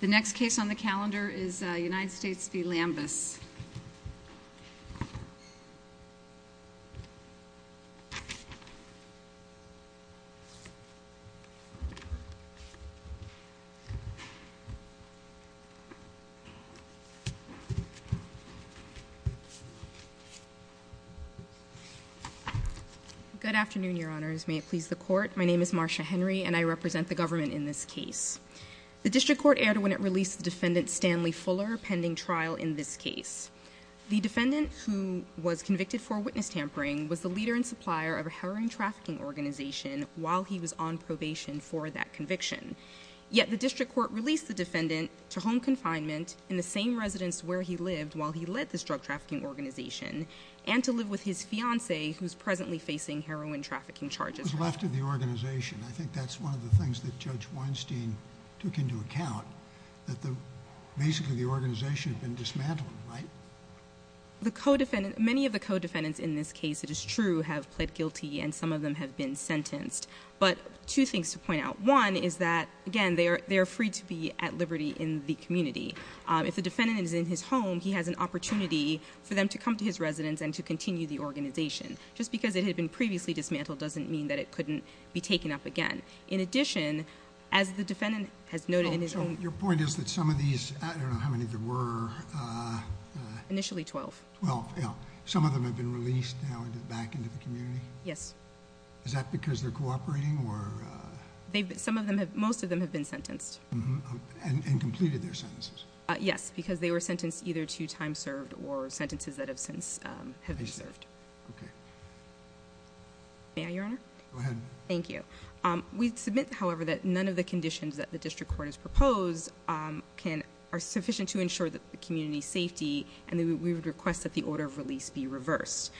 The next case on the calendar is United States v. Lambus. Good afternoon, your honors. May it please the court. My name is Marcia Henry and I represent the government in this case. The district court erred when it released defendant Stanley Fuller pending trial in this case. The defendant, who was convicted for witness tampering, was the leader and supplier of a heroin trafficking organization while he was on probation for that conviction. Yet the district court released the defendant to home confinement in the same residence where he lived while he led this drug trafficking organization, and to live with his fiancée, who is presently facing heroin trafficking charges. He was left to the organization. I think that's one of the things that Judge Weinstein took into account, that basically the organization had been dismantled, right? Many of the co-defendants in this case, it is true, have pled guilty and some of them have been sentenced. But two things to point out. One is that, again, they are free to be at liberty in the community. If the defendant is in his home, he has an opportunity for them to come to his residence and to continue the organization. Just because it had been previously dismantled doesn't mean that it couldn't be taken up again. In addition, as the defendant has noted in his own... So your point is that some of these, I don't know how many there were... Initially 12. 12, yeah. Some of them have been released now back into the community? Yes. Is that because they're cooperating or... Some of them, most of them have been sentenced. And completed their sentences? Yes, because they were sentenced either to time served or sentences that have since been served. Okay. May I, Your Honor? Go ahead. Thank you. We submit, however, that none of the conditions that the district court has proposed are sufficient to ensure the community's safety and that we would request that the order of release be reversed.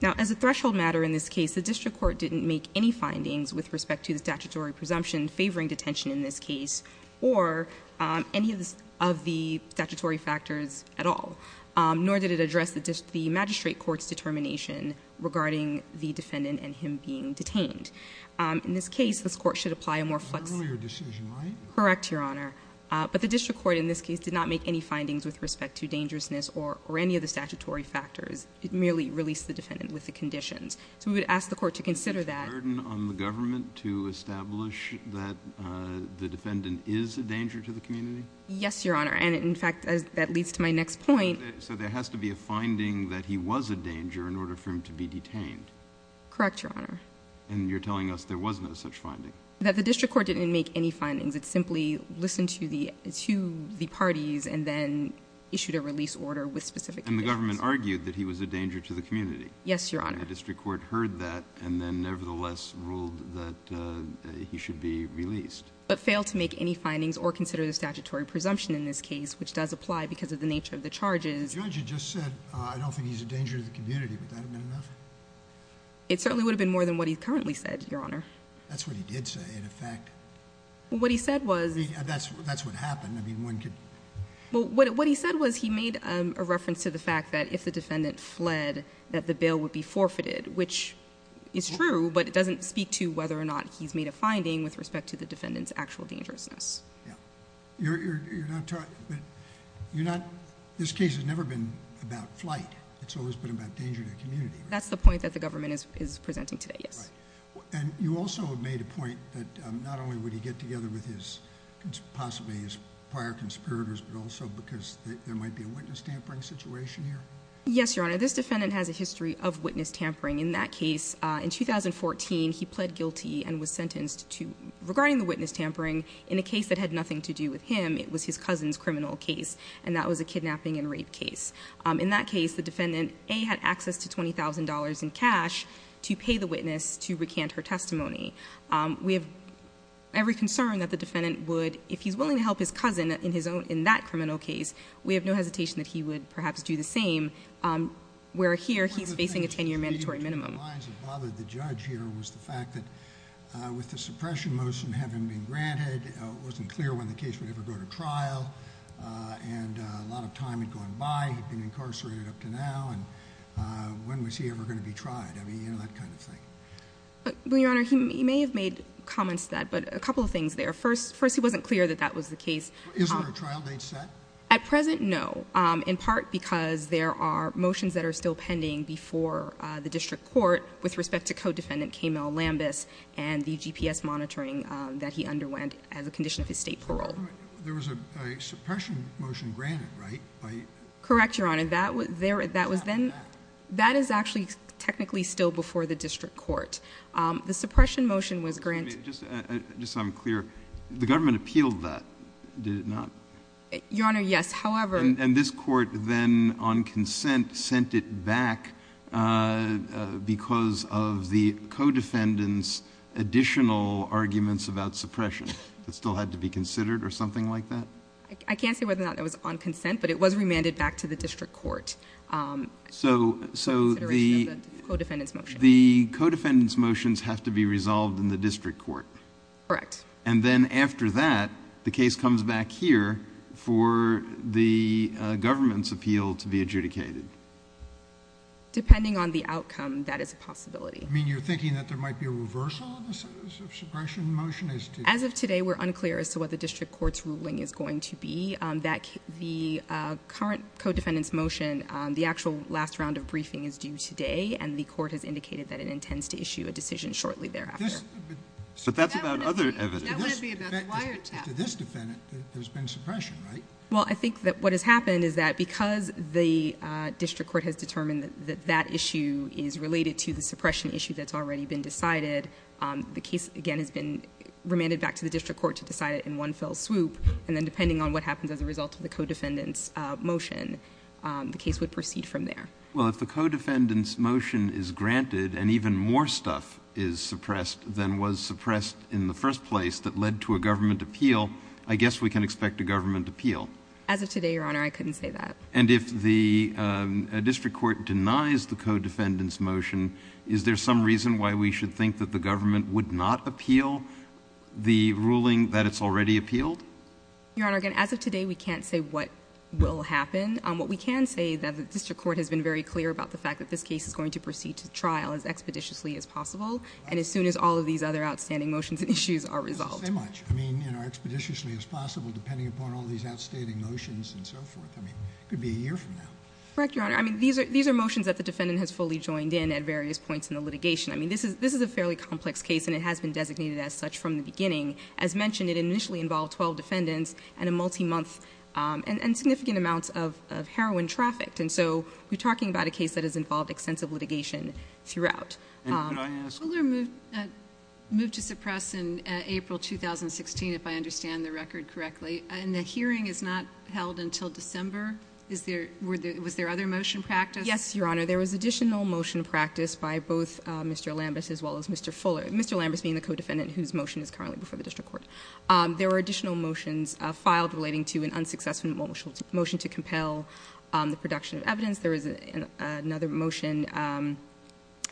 Now, as a threshold matter in this case, the district court didn't make any findings with respect to the statutory presumption favoring detention in this case or any of the statutory factors at all. Nor did it address the magistrate court's determination regarding the defendant and him being detained. In this case, this court should apply a more flexible... An earlier decision, right? Correct, Your Honor. But the district court in this case did not make any findings with respect to dangerousness or any of the statutory factors. It merely released the defendant with the conditions. So we would ask the court to consider that. A burden on the government to establish that the defendant is a danger to the community? Yes, Your Honor. And, in fact, that leads to my next point. So there has to be a finding that he was a danger in order for him to be detained? Correct, Your Honor. And you're telling us there was no such finding? That the district court didn't make any findings. It simply listened to the parties and then issued a release order with specific conditions. And the government argued that he was a danger to the community? Yes, Your Honor. And the district court heard that and then nevertheless ruled that he should be released? But failed to make any findings or consider the statutory presumption in this case, which does apply because of the nature of the charges. The judge had just said, I don't think he's a danger to the community. Would that have been enough? It certainly would have been more than what he currently said, Your Honor. That's what he did say, in effect. Well, what he said was... I mean, that's what happened. I mean, one could... Well, what he said was he made a reference to the fact that if the defendant fled that the bail would be forfeited, which is true, but it doesn't speak to whether or not he's made a finding with respect to the defendant's actual dangerousness. Yeah. You're not talking... You're not... This case has never been about flight. It's always been about danger to the community. That's the point that the government is presenting today, yes. Right. And you also have made a point that not only would he get together with possibly his prior conspirators, but also because there might be a witness tampering situation here? Yes, Your Honor. This defendant has a history of witness tampering. In that case, in 2014, he pled guilty and was sentenced to... Regarding the witness tampering, in a case that had nothing to do with him, it was his cousin's criminal case, and that was a kidnapping and rape case. In that case, the defendant, A, had access to $20,000 in cash to pay the witness to recant her testimony. We have every concern that the defendant would... Where here, he's facing a 10-year mandatory minimum. One of the things that bothered the judge here was the fact that with the suppression motion having been granted, it wasn't clear when the case would ever go to trial, and a lot of time had gone by. He'd been incarcerated up to now, and when was he ever going to be tried? I mean, you know, that kind of thing. Well, Your Honor, he may have made comments to that, but a couple of things there. First, he wasn't clear that that was the case. Is there a trial date set? At present, no, in part because there are motions that are still pending before the district court with respect to co-defendant K. Mel Lambus and the GPS monitoring that he underwent as a condition of his state parole. There was a suppression motion granted, right? Correct, Your Honor. That was then... That is actually technically still before the district court. The suppression motion was granted... Just so I'm clear, the government appealed that, did it not? Your Honor, yes, however... And this court then, on consent, sent it back because of the co-defendant's additional arguments about suppression that still had to be considered or something like that? I can't say whether or not it was on consent, but it was remanded back to the district court. So the co-defendant's motions have to be resolved in the district court. Correct. And then after that, the case comes back here for the government's appeal to be adjudicated. Depending on the outcome, that is a possibility. You're thinking that there might be a reversal of the suppression motion? As of today, we're unclear as to what the district court's ruling is going to be. The current co-defendant's motion, the actual last round of briefing is due today, and the court has indicated that it intends to issue a decision shortly thereafter. But that's about other evidence. That would be about the wiretap. To this defendant, there's been suppression, right? Well, I think that what has happened is that because the district court has determined that that issue is related to the suppression issue that's already been decided, the case, again, has been remanded back to the district court to decide it in one fell swoop, and then depending on what happens as a result of the co-defendant's motion, the case would proceed from there. Well, if the co-defendant's motion is granted and even more stuff is suppressed than was suppressed in the first place that led to a government appeal, I guess we can expect a government appeal. As of today, Your Honor, I couldn't say that. And if the district court denies the co-defendant's motion, is there some reason why we should think that the government would not appeal the ruling that it's already appealed? Your Honor, again, as of today, we can't say what will happen. What we can say is that the district court has been very clear about the fact that this case is going to proceed to trial as expeditiously as possible, and as soon as all of these other outstanding motions and issues are resolved. I mean, expeditiously as possible, depending upon all these outstanding motions and so forth. I mean, it could be a year from now. Correct, Your Honor. I mean, these are motions that the defendant has fully joined in at various points in the litigation. I mean, this is a fairly complex case, and it has been designated as such from the beginning. As mentioned, it initially involved 12 defendants and a multi-month and significant amounts of heroin trafficked. And so we're talking about a case that has involved extensive litigation throughout. Can I ask? Fuller moved to suppress in April 2016, if I understand the record correctly. And the hearing is not held until December. Was there other motion practice? Yes, Your Honor. There was additional motion practice by both Mr. Lambus as well as Mr. Fuller, Mr. Lambus being the codefendant whose motion is currently before the district court. There were additional motions filed relating to an unsuccessful motion to compel the production of evidence. There was another motion.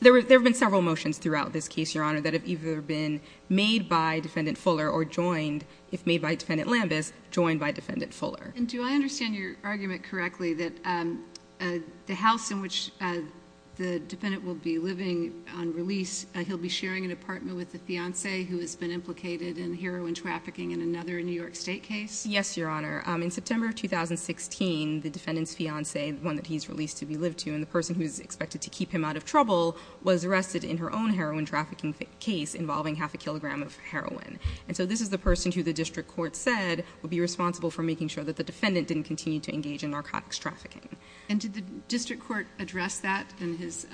There have been several motions throughout this case, Your Honor, that have either been made by Defendant Fuller or joined, if made by Defendant Lambus, joined by Defendant Fuller. And do I understand your argument correctly that the house in which the defendant will be living on release, he'll be sharing an apartment with the fiance who has been implicated in heroin trafficking in another New York State case? Yes, Your Honor. In September of 2016, the defendant's fiance, the one that he's released to be lived to, and the person who's expected to keep him out of trouble, was arrested in her own heroin trafficking case involving half a kilogram of heroin. And so this is the person who the district court said would be responsible for making sure that the defendant didn't continue to engage in narcotics trafficking. And did the district court address that in his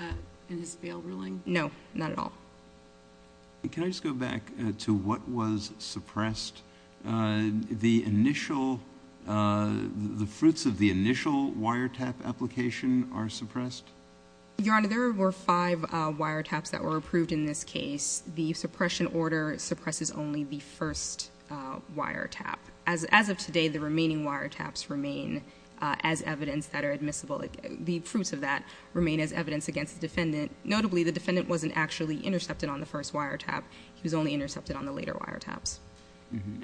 bail ruling? No, not at all. Can I just go back to what was suppressed? The initial, the fruits of the initial wiretap application are suppressed? Your Honor, there were five wiretaps that were approved in this case. The suppression order suppresses only the first wiretap. As of today, the remaining wiretaps remain as evidence that are admissible. The fruits of that remain as evidence against the defendant. Notably, the defendant wasn't actually intercepted on the first wiretap. He was only intercepted on the later wiretaps.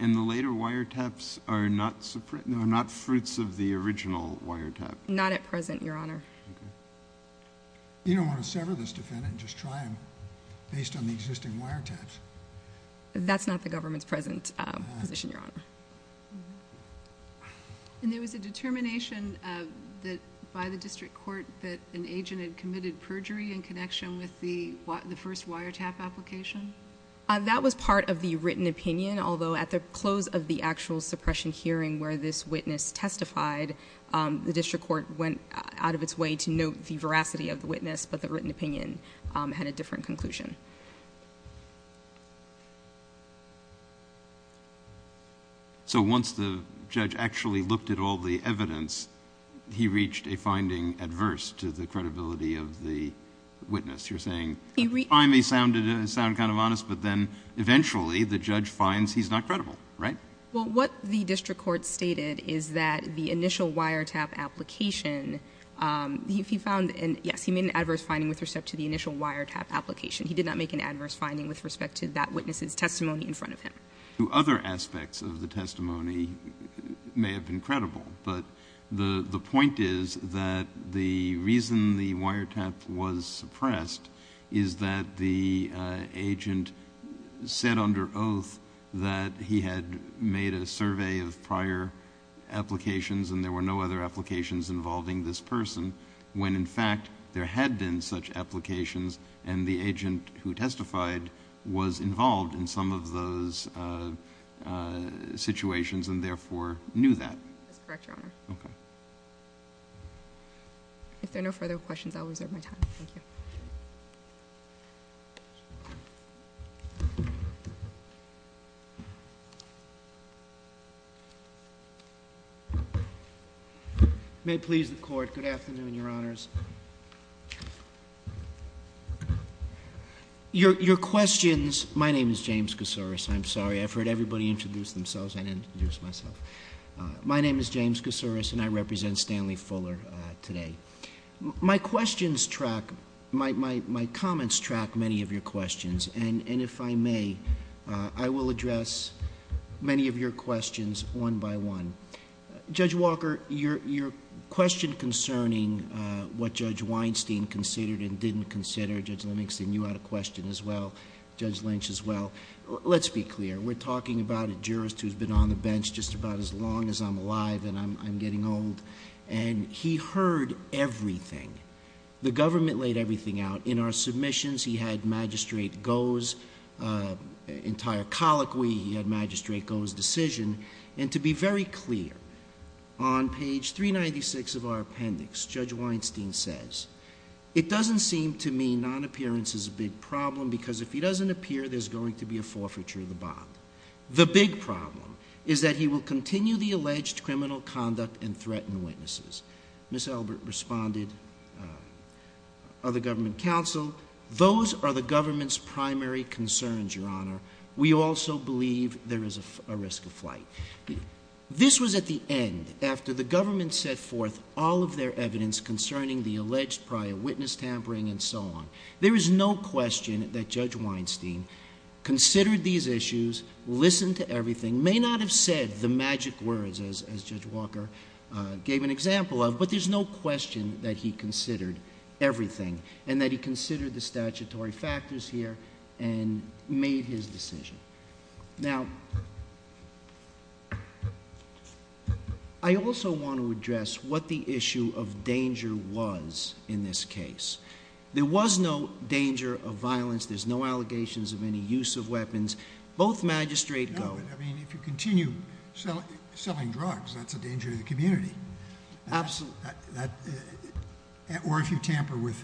And the later wiretaps are not fruits of the original wiretap? Not at present, Your Honor. You don't want to sever this defendant and just try him based on the existing wiretaps? And there was a determination by the district court that an agent had committed perjury in connection with the first wiretap application? That was part of the written opinion, although at the close of the actual suppression hearing where this witness testified, the district court went out of its way to note the veracity of the witness, but the written opinion had a different conclusion. So once the judge actually looked at all the evidence, he reached a finding adverse to the credibility of the witness? You're saying I may sound kind of honest, but then eventually the judge finds he's not credible, right? Well, what the district court stated is that the initial wiretap application, if he found, yes, he made an adverse finding with respect to the initial wiretap application. He did not make an adverse finding with respect to that witness's testimony in front of him. Other aspects of the testimony may have been credible, but the point is that the reason the wiretap was suppressed is that the agent said under oath that he had made a survey of prior applications and there were no other applications involving this person when, in fact, there had been such applications and the agent who testified was involved in some of those situations and therefore knew that. That's correct, Your Honor. Okay. If there are no further questions, I'll reserve my time. Thank you. Thank you. May it please the court, good afternoon, Your Honors. Your questions, my name is James Kousouris. I'm sorry, I've heard everybody introduce themselves. I didn't introduce myself. My name is James Kousouris and I represent Stanley Fuller today. My questions track, my comments track many of your questions and if I may, I will address many of your questions one by one. Judge Walker, your question concerning what Judge Weinstein considered and didn't consider, Judge Lenningson, you had a question as well, Judge Lynch as well. Let's be clear. We're talking about a jurist who's been on the bench just about as long as I'm alive and I'm getting old and he heard everything. The government laid everything out. In our submissions, he had Magistrate Goh's entire colloquy, he had Magistrate Goh's decision and to be very clear, on page 396 of our appendix, Judge Weinstein says, it doesn't seem to me non-appearance is a big problem because if he doesn't appear, there's going to be a forfeiture of the bond. The big problem is that he will continue the alleged criminal conduct and threaten witnesses. Ms. Albert responded, other government counsel, those are the government's primary concerns, Your Honor. We also believe there is a risk of flight. This was at the end, after the government set forth all of their evidence concerning the alleged prior witness tampering and so on. There is no question that Judge Weinstein considered these issues, listened to everything, may not have said the magic words as Judge Walker gave an example of, but there's no question that he considered everything and that he considered the statutory factors here and made his decision. Now, I also want to address what the issue of danger was in this case. There was no danger of violence. There's no allegations of any use of weapons. Both magistrates go. I mean, if you continue selling drugs, that's a danger to the community. Absolutely. Or if you tamper with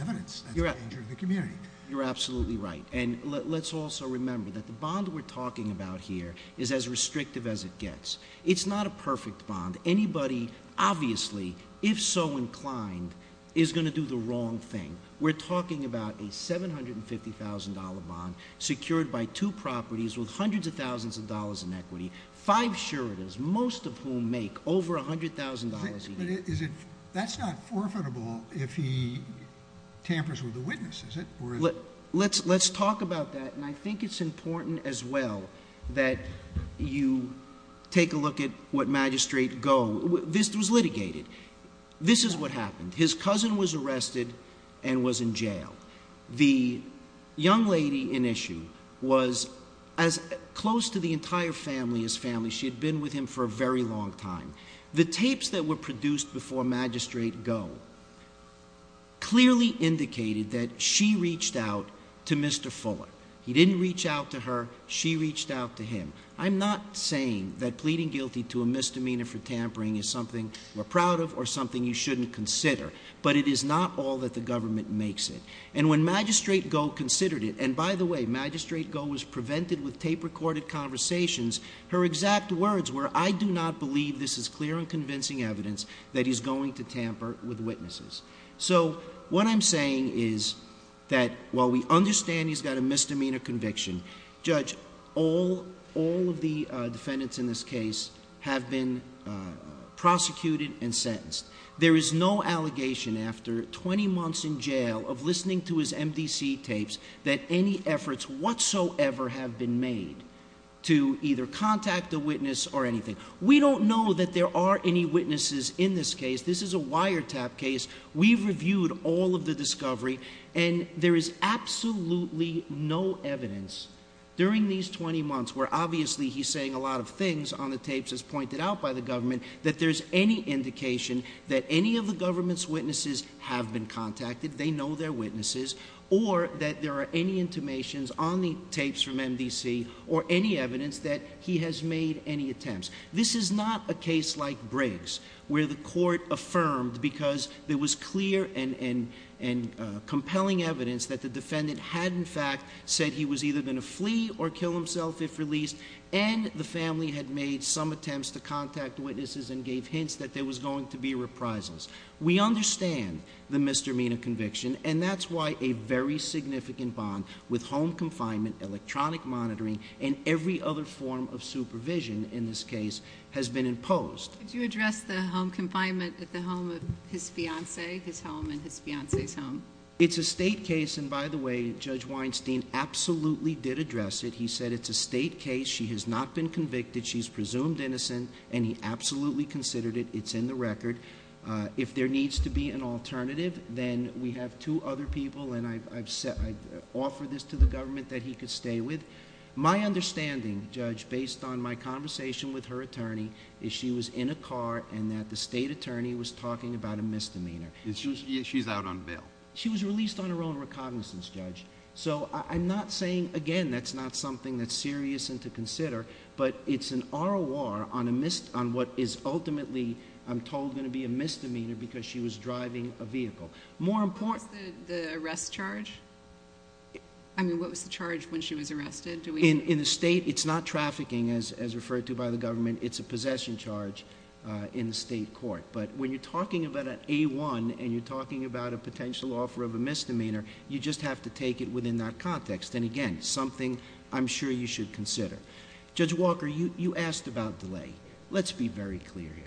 evidence, that's a danger to the community. You're absolutely right. And let's also remember that the bond we're talking about here is as restrictive as it gets. It's not a perfect bond. Anybody, obviously, if so inclined, is going to do the wrong thing. We're talking about a $750,000 bond secured by two properties with hundreds of thousands of dollars in equity, five suretors, most of whom make over $100,000 a year. But that's not forfeitable if he tampers with the witness, is it? Let's talk about that. And I think it's important as well that you take a look at what Magistrate Goh, this was litigated. This is what happened. His cousin was arrested and was in jail. The young lady in issue was as close to the entire family as family. She had been with him for a very long time. The tapes that were produced before Magistrate Goh clearly indicated that she reached out to Mr. Fuller. He didn't reach out to her. She reached out to him. I'm not saying that pleading guilty to a misdemeanor for tampering is something we're proud of or something you shouldn't consider. But it is not all that the government makes it. And when Magistrate Goh considered it, and by the way, Magistrate Goh was prevented with tape-recorded conversations. Her exact words were, I do not believe this is clear and convincing evidence that he's going to tamper with witnesses. So what I'm saying is that while we understand he's got a misdemeanor conviction, Judge, all of the defendants in this case have been prosecuted and sentenced. There is no allegation after 20 months in jail of listening to his MDC tapes that any efforts whatsoever have been made to either contact a witness or anything. We don't know that there are any witnesses in this case. This is a wiretap case. We've reviewed all of the discovery. And there is absolutely no evidence during these 20 months, where obviously he's saying a lot of things on the tapes as pointed out by the government, that there's any indication that any of the government's witnesses have been contacted, they know they're witnesses, or that there are any intimations on the tapes from MDC, or any evidence that he has made any attempts. This is not a case like Briggs, where the court affirmed because there was clear and compelling evidence that the defendant had in fact said he was either going to flee or kill himself if released, and the family had made some attempts to contact witnesses and gave hints that there was going to be reprisals. We understand the misdemeanor conviction, and that's why a very significant bond with home confinement, electronic monitoring, and every other form of supervision in this case has been imposed. Could you address the home confinement at the home of his fiancée, his home and his fiancée's home? It's a state case, and by the way, Judge Weinstein absolutely did address it. He said it's a state case. She has not been convicted. She's presumed innocent, and he absolutely considered it. It's in the record. If there needs to be an alternative, then we have two other people, and I offer this to the government that he could stay with. My understanding, Judge, based on my conversation with her attorney, is she was in a car and that the state attorney was talking about a misdemeanor. She's out on bail. She was released on her own recognizance, Judge. So I'm not saying, again, that's not something that's serious and to consider, but it's an ROR on what is ultimately, I'm told, going to be a misdemeanor because she was driving a vehicle. What was the arrest charge? I mean, what was the charge when she was arrested? In the state, it's not trafficking, as referred to by the government. It's a possession charge in the state court. But when you're talking about an A-1 and you're talking about a potential offer of a misdemeanor, you just have to take it within that context, and, again, something I'm sure you should consider. Judge Walker, you asked about delay. Let's be very clear here.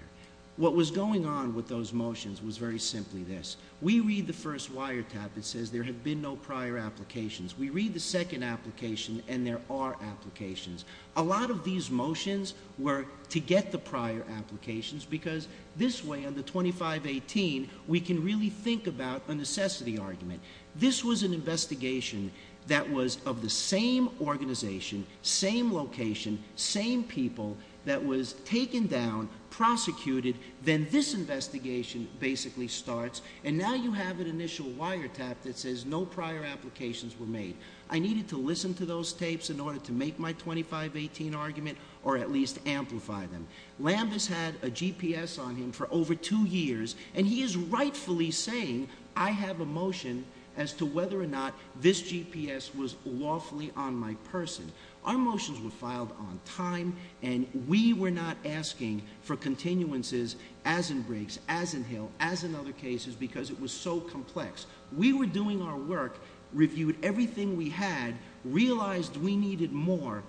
What was going on with those motions was very simply this. We read the first wiretap. It says there have been no prior applications. We read the second application, and there are applications. A lot of these motions were to get the prior applications because this way, under 2518, we can really think about a necessity argument. This was an investigation that was of the same organization, same location, same people that was taken down, prosecuted. Then this investigation basically starts, and now you have an initial wiretap that says no prior applications were made. I needed to listen to those tapes in order to make my 2518 argument or at least amplify them. Lambus had a GPS on him for over two years, and he is rightfully saying, I have a motion as to whether or not this GPS was lawfully on my person. Our motions were filed on time, and we were not asking for continuances as in Briggs, as in Hill, as in other cases because it was so complex. We were doing our work, reviewed everything we had, realized we needed more,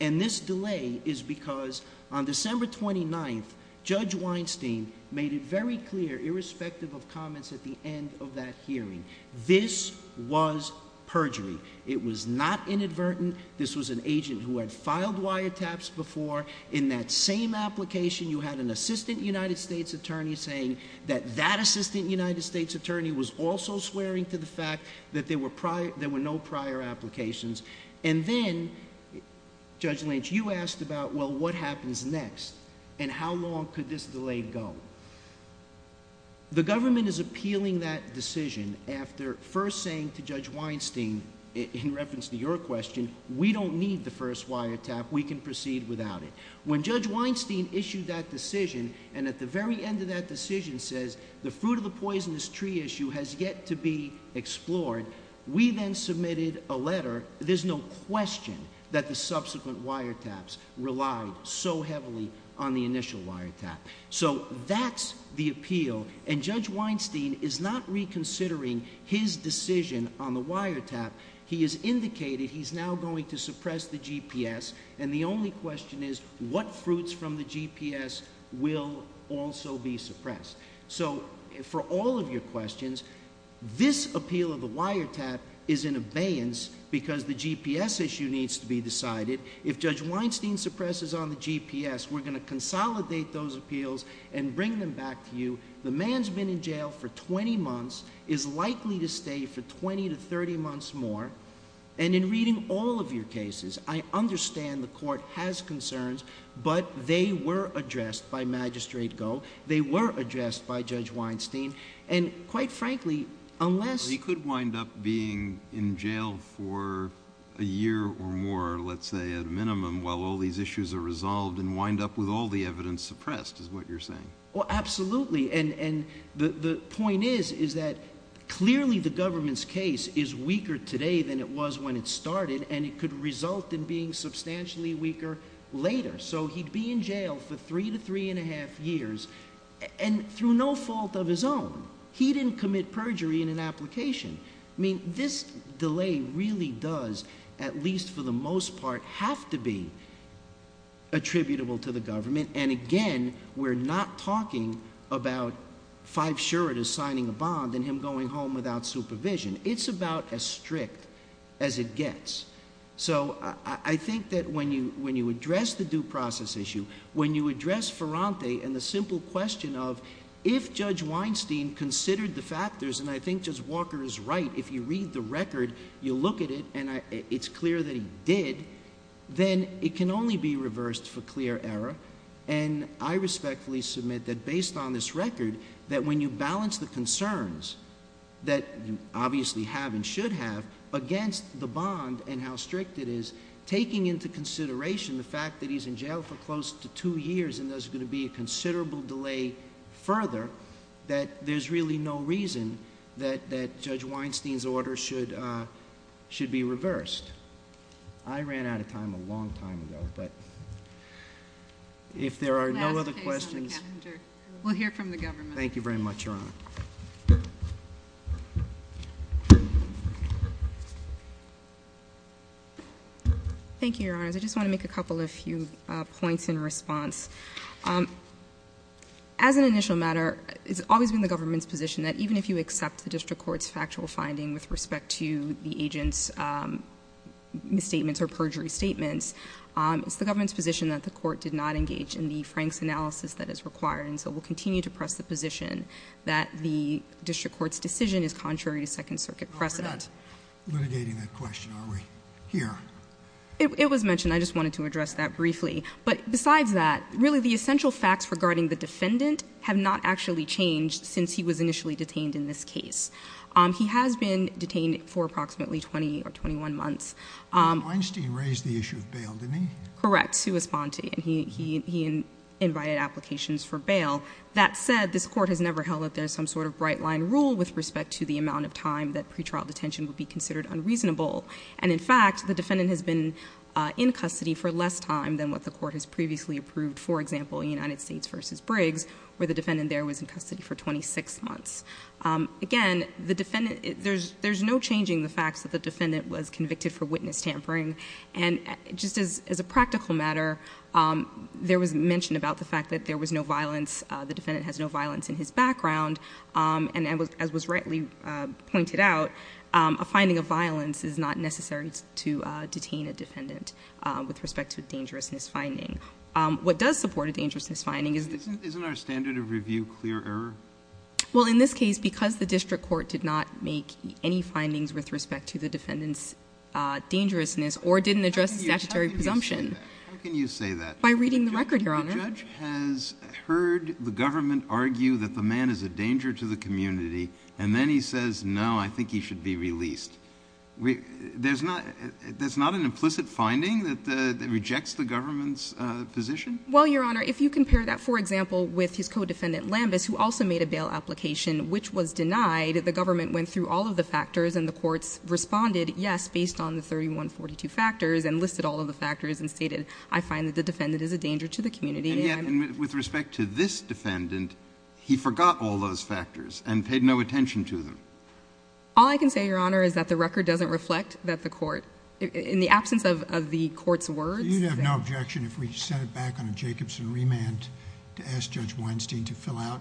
and this delay is because on December 29th, Judge Weinstein made it very clear, irrespective of comments at the end of that hearing, this was perjury. It was not inadvertent. This was an agent who had filed wiretaps before. In that same application, you had an assistant United States attorney saying that that assistant United States attorney was also swearing to the fact that there were no prior applications. And then, Judge Lynch, you asked about, well, what happens next and how long could this delay go? The government is appealing that decision after first saying to Judge Weinstein, in reference to your question, we don't need the first wiretap. We can proceed without it. When Judge Weinstein issued that decision and at the very end of that decision says the fruit of the poisonous tree issue has yet to be explored, we then submitted a letter. There's no question that the subsequent wiretaps relied so heavily on the initial wiretap. So that's the appeal, and Judge Weinstein is not reconsidering his decision on the wiretap. He has indicated he's now going to suppress the GPS, and the only question is what fruits from the GPS will also be suppressed. So for all of your questions, this appeal of the wiretap is in abeyance because the GPS issue needs to be decided. If Judge Weinstein suppresses on the GPS, we're going to consolidate those appeals and bring them back to you. The man's been in jail for 20 months, is likely to stay for 20 to 30 months more. And in reading all of your cases, I understand the Court has concerns, but they were addressed by Magistrate Goh. They were addressed by Judge Weinstein. And quite frankly, unless— He could wind up being in jail for a year or more, let's say, at a minimum, while all these issues are resolved and wind up with all the evidence suppressed, is what you're saying. Well, absolutely. And the point is that clearly the government's case is weaker today than it was when it started, and it could result in being substantially weaker later. So he'd be in jail for three to three-and-a-half years, and through no fault of his own. He didn't commit perjury in an application. I mean, this delay really does, at least for the most part, have to be attributable to the government. And again, we're not talking about five suretas signing a bond and him going home without supervision. It's about as strict as it gets. So I think that when you address the due process issue, when you address Ferrante and the simple question of if Judge Weinstein considered the factors, and I think Judge Walker is right, if you read the record, you look at it, and it's clear that he did, then it can only be reversed for clear error. And I respectfully submit that based on this record, that when you balance the concerns that you obviously have and should have against the bond and how strict it is, taking into consideration the fact that he's in jail for close to two years and there's going to be a considerable delay further, that there's really no reason that Judge Weinstein's order should be reversed. I ran out of time a long time ago, but if there are no other questions... Last case on the calendar. We'll hear from the government. Thank you very much, Your Honor. Thank you, Your Honors. I just want to make a couple of few points in response. As an initial matter, it's always been the government's position that even if you accept the district court's factual finding with respect to the agent's misstatements or perjury statements, it's the government's position that the court did not engage in the Frank's analysis that is required, and so we'll continue to press the position that the district court's decision is contrary to Second Circuit precedent. Litigating that question, are we? Here. It was mentioned. I just wanted to address that briefly. But besides that, really the essential facts regarding the defendant have not actually changed since he was initially detained in this case. He has been detained for approximately 20 or 21 months. Weinstein raised the issue of bail, didn't he? Correct. He was bonded. He invited applications for bail. That said, this court has never held that there's some sort of bright-line rule with respect to the amount of time that pretrial detention would be considered unreasonable. And in fact, the defendant has been in custody for less time than what the court has previously approved, for example, in United States v. Briggs, where the defendant there was in custody for 26 months. Again, there's no changing the fact that the defendant was convicted for witness tampering. And just as a practical matter, there was mention about the fact that there was no violence. The defendant has no violence in his background. And as was rightly pointed out, a finding of violence is not necessary to detain a defendant with respect to a dangerousness finding. What does support a dangerousness finding is the ---- Isn't our standard of review clear error? Well, in this case, because the district court did not make any findings with respect to the defendant's dangerousness or didn't address the statutory presumption. How can you say that? By reading the record, Your Honor. The judge has heard the government argue that the man is a danger to the community. And then he says, no, I think he should be released. There's not an implicit finding that rejects the government's position? Well, Your Honor, if you compare that, for example, with his co-defendant Lambus, who also made a bail application which was denied, the government went through all of the factors and the courts responded yes based on the 3142 factors and listed all of the factors and stated, I find that the defendant is a danger to the community. And yet, with respect to this defendant, he forgot all those factors and paid no attention to them? All I can say, Your Honor, is that the record doesn't reflect that the court, in the absence of the court's words ---- So you have no objection if we set it back on a Jacobson remand to ask Judge Weinstein to fill out,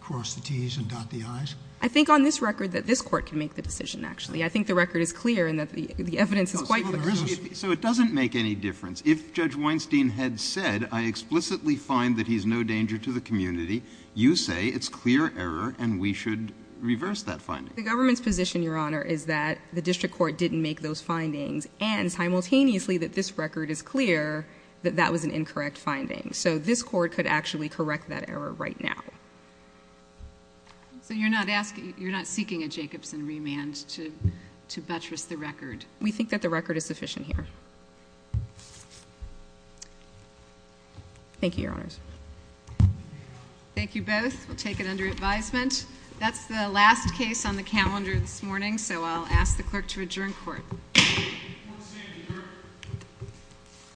cross the Ts and dot the Is? I think on this record that this court can make the decision, actually. I think the record is clear and that the evidence is quite clear. So it doesn't make any difference. If Judge Weinstein had said, I explicitly find that he's no danger to the community, you say it's clear error and we should reverse that finding? The government's position, Your Honor, is that the district court didn't make those findings and, simultaneously, that this record is clear that that was an incorrect finding. So this court could actually correct that error right now. So you're not seeking a Jacobson remand to buttress the record? We think that the record is sufficient here. Thank you, Your Honors. Thank you both. We'll take it under advisement. That's the last case on the calendar this morning, so I'll ask the clerk to adjourn court.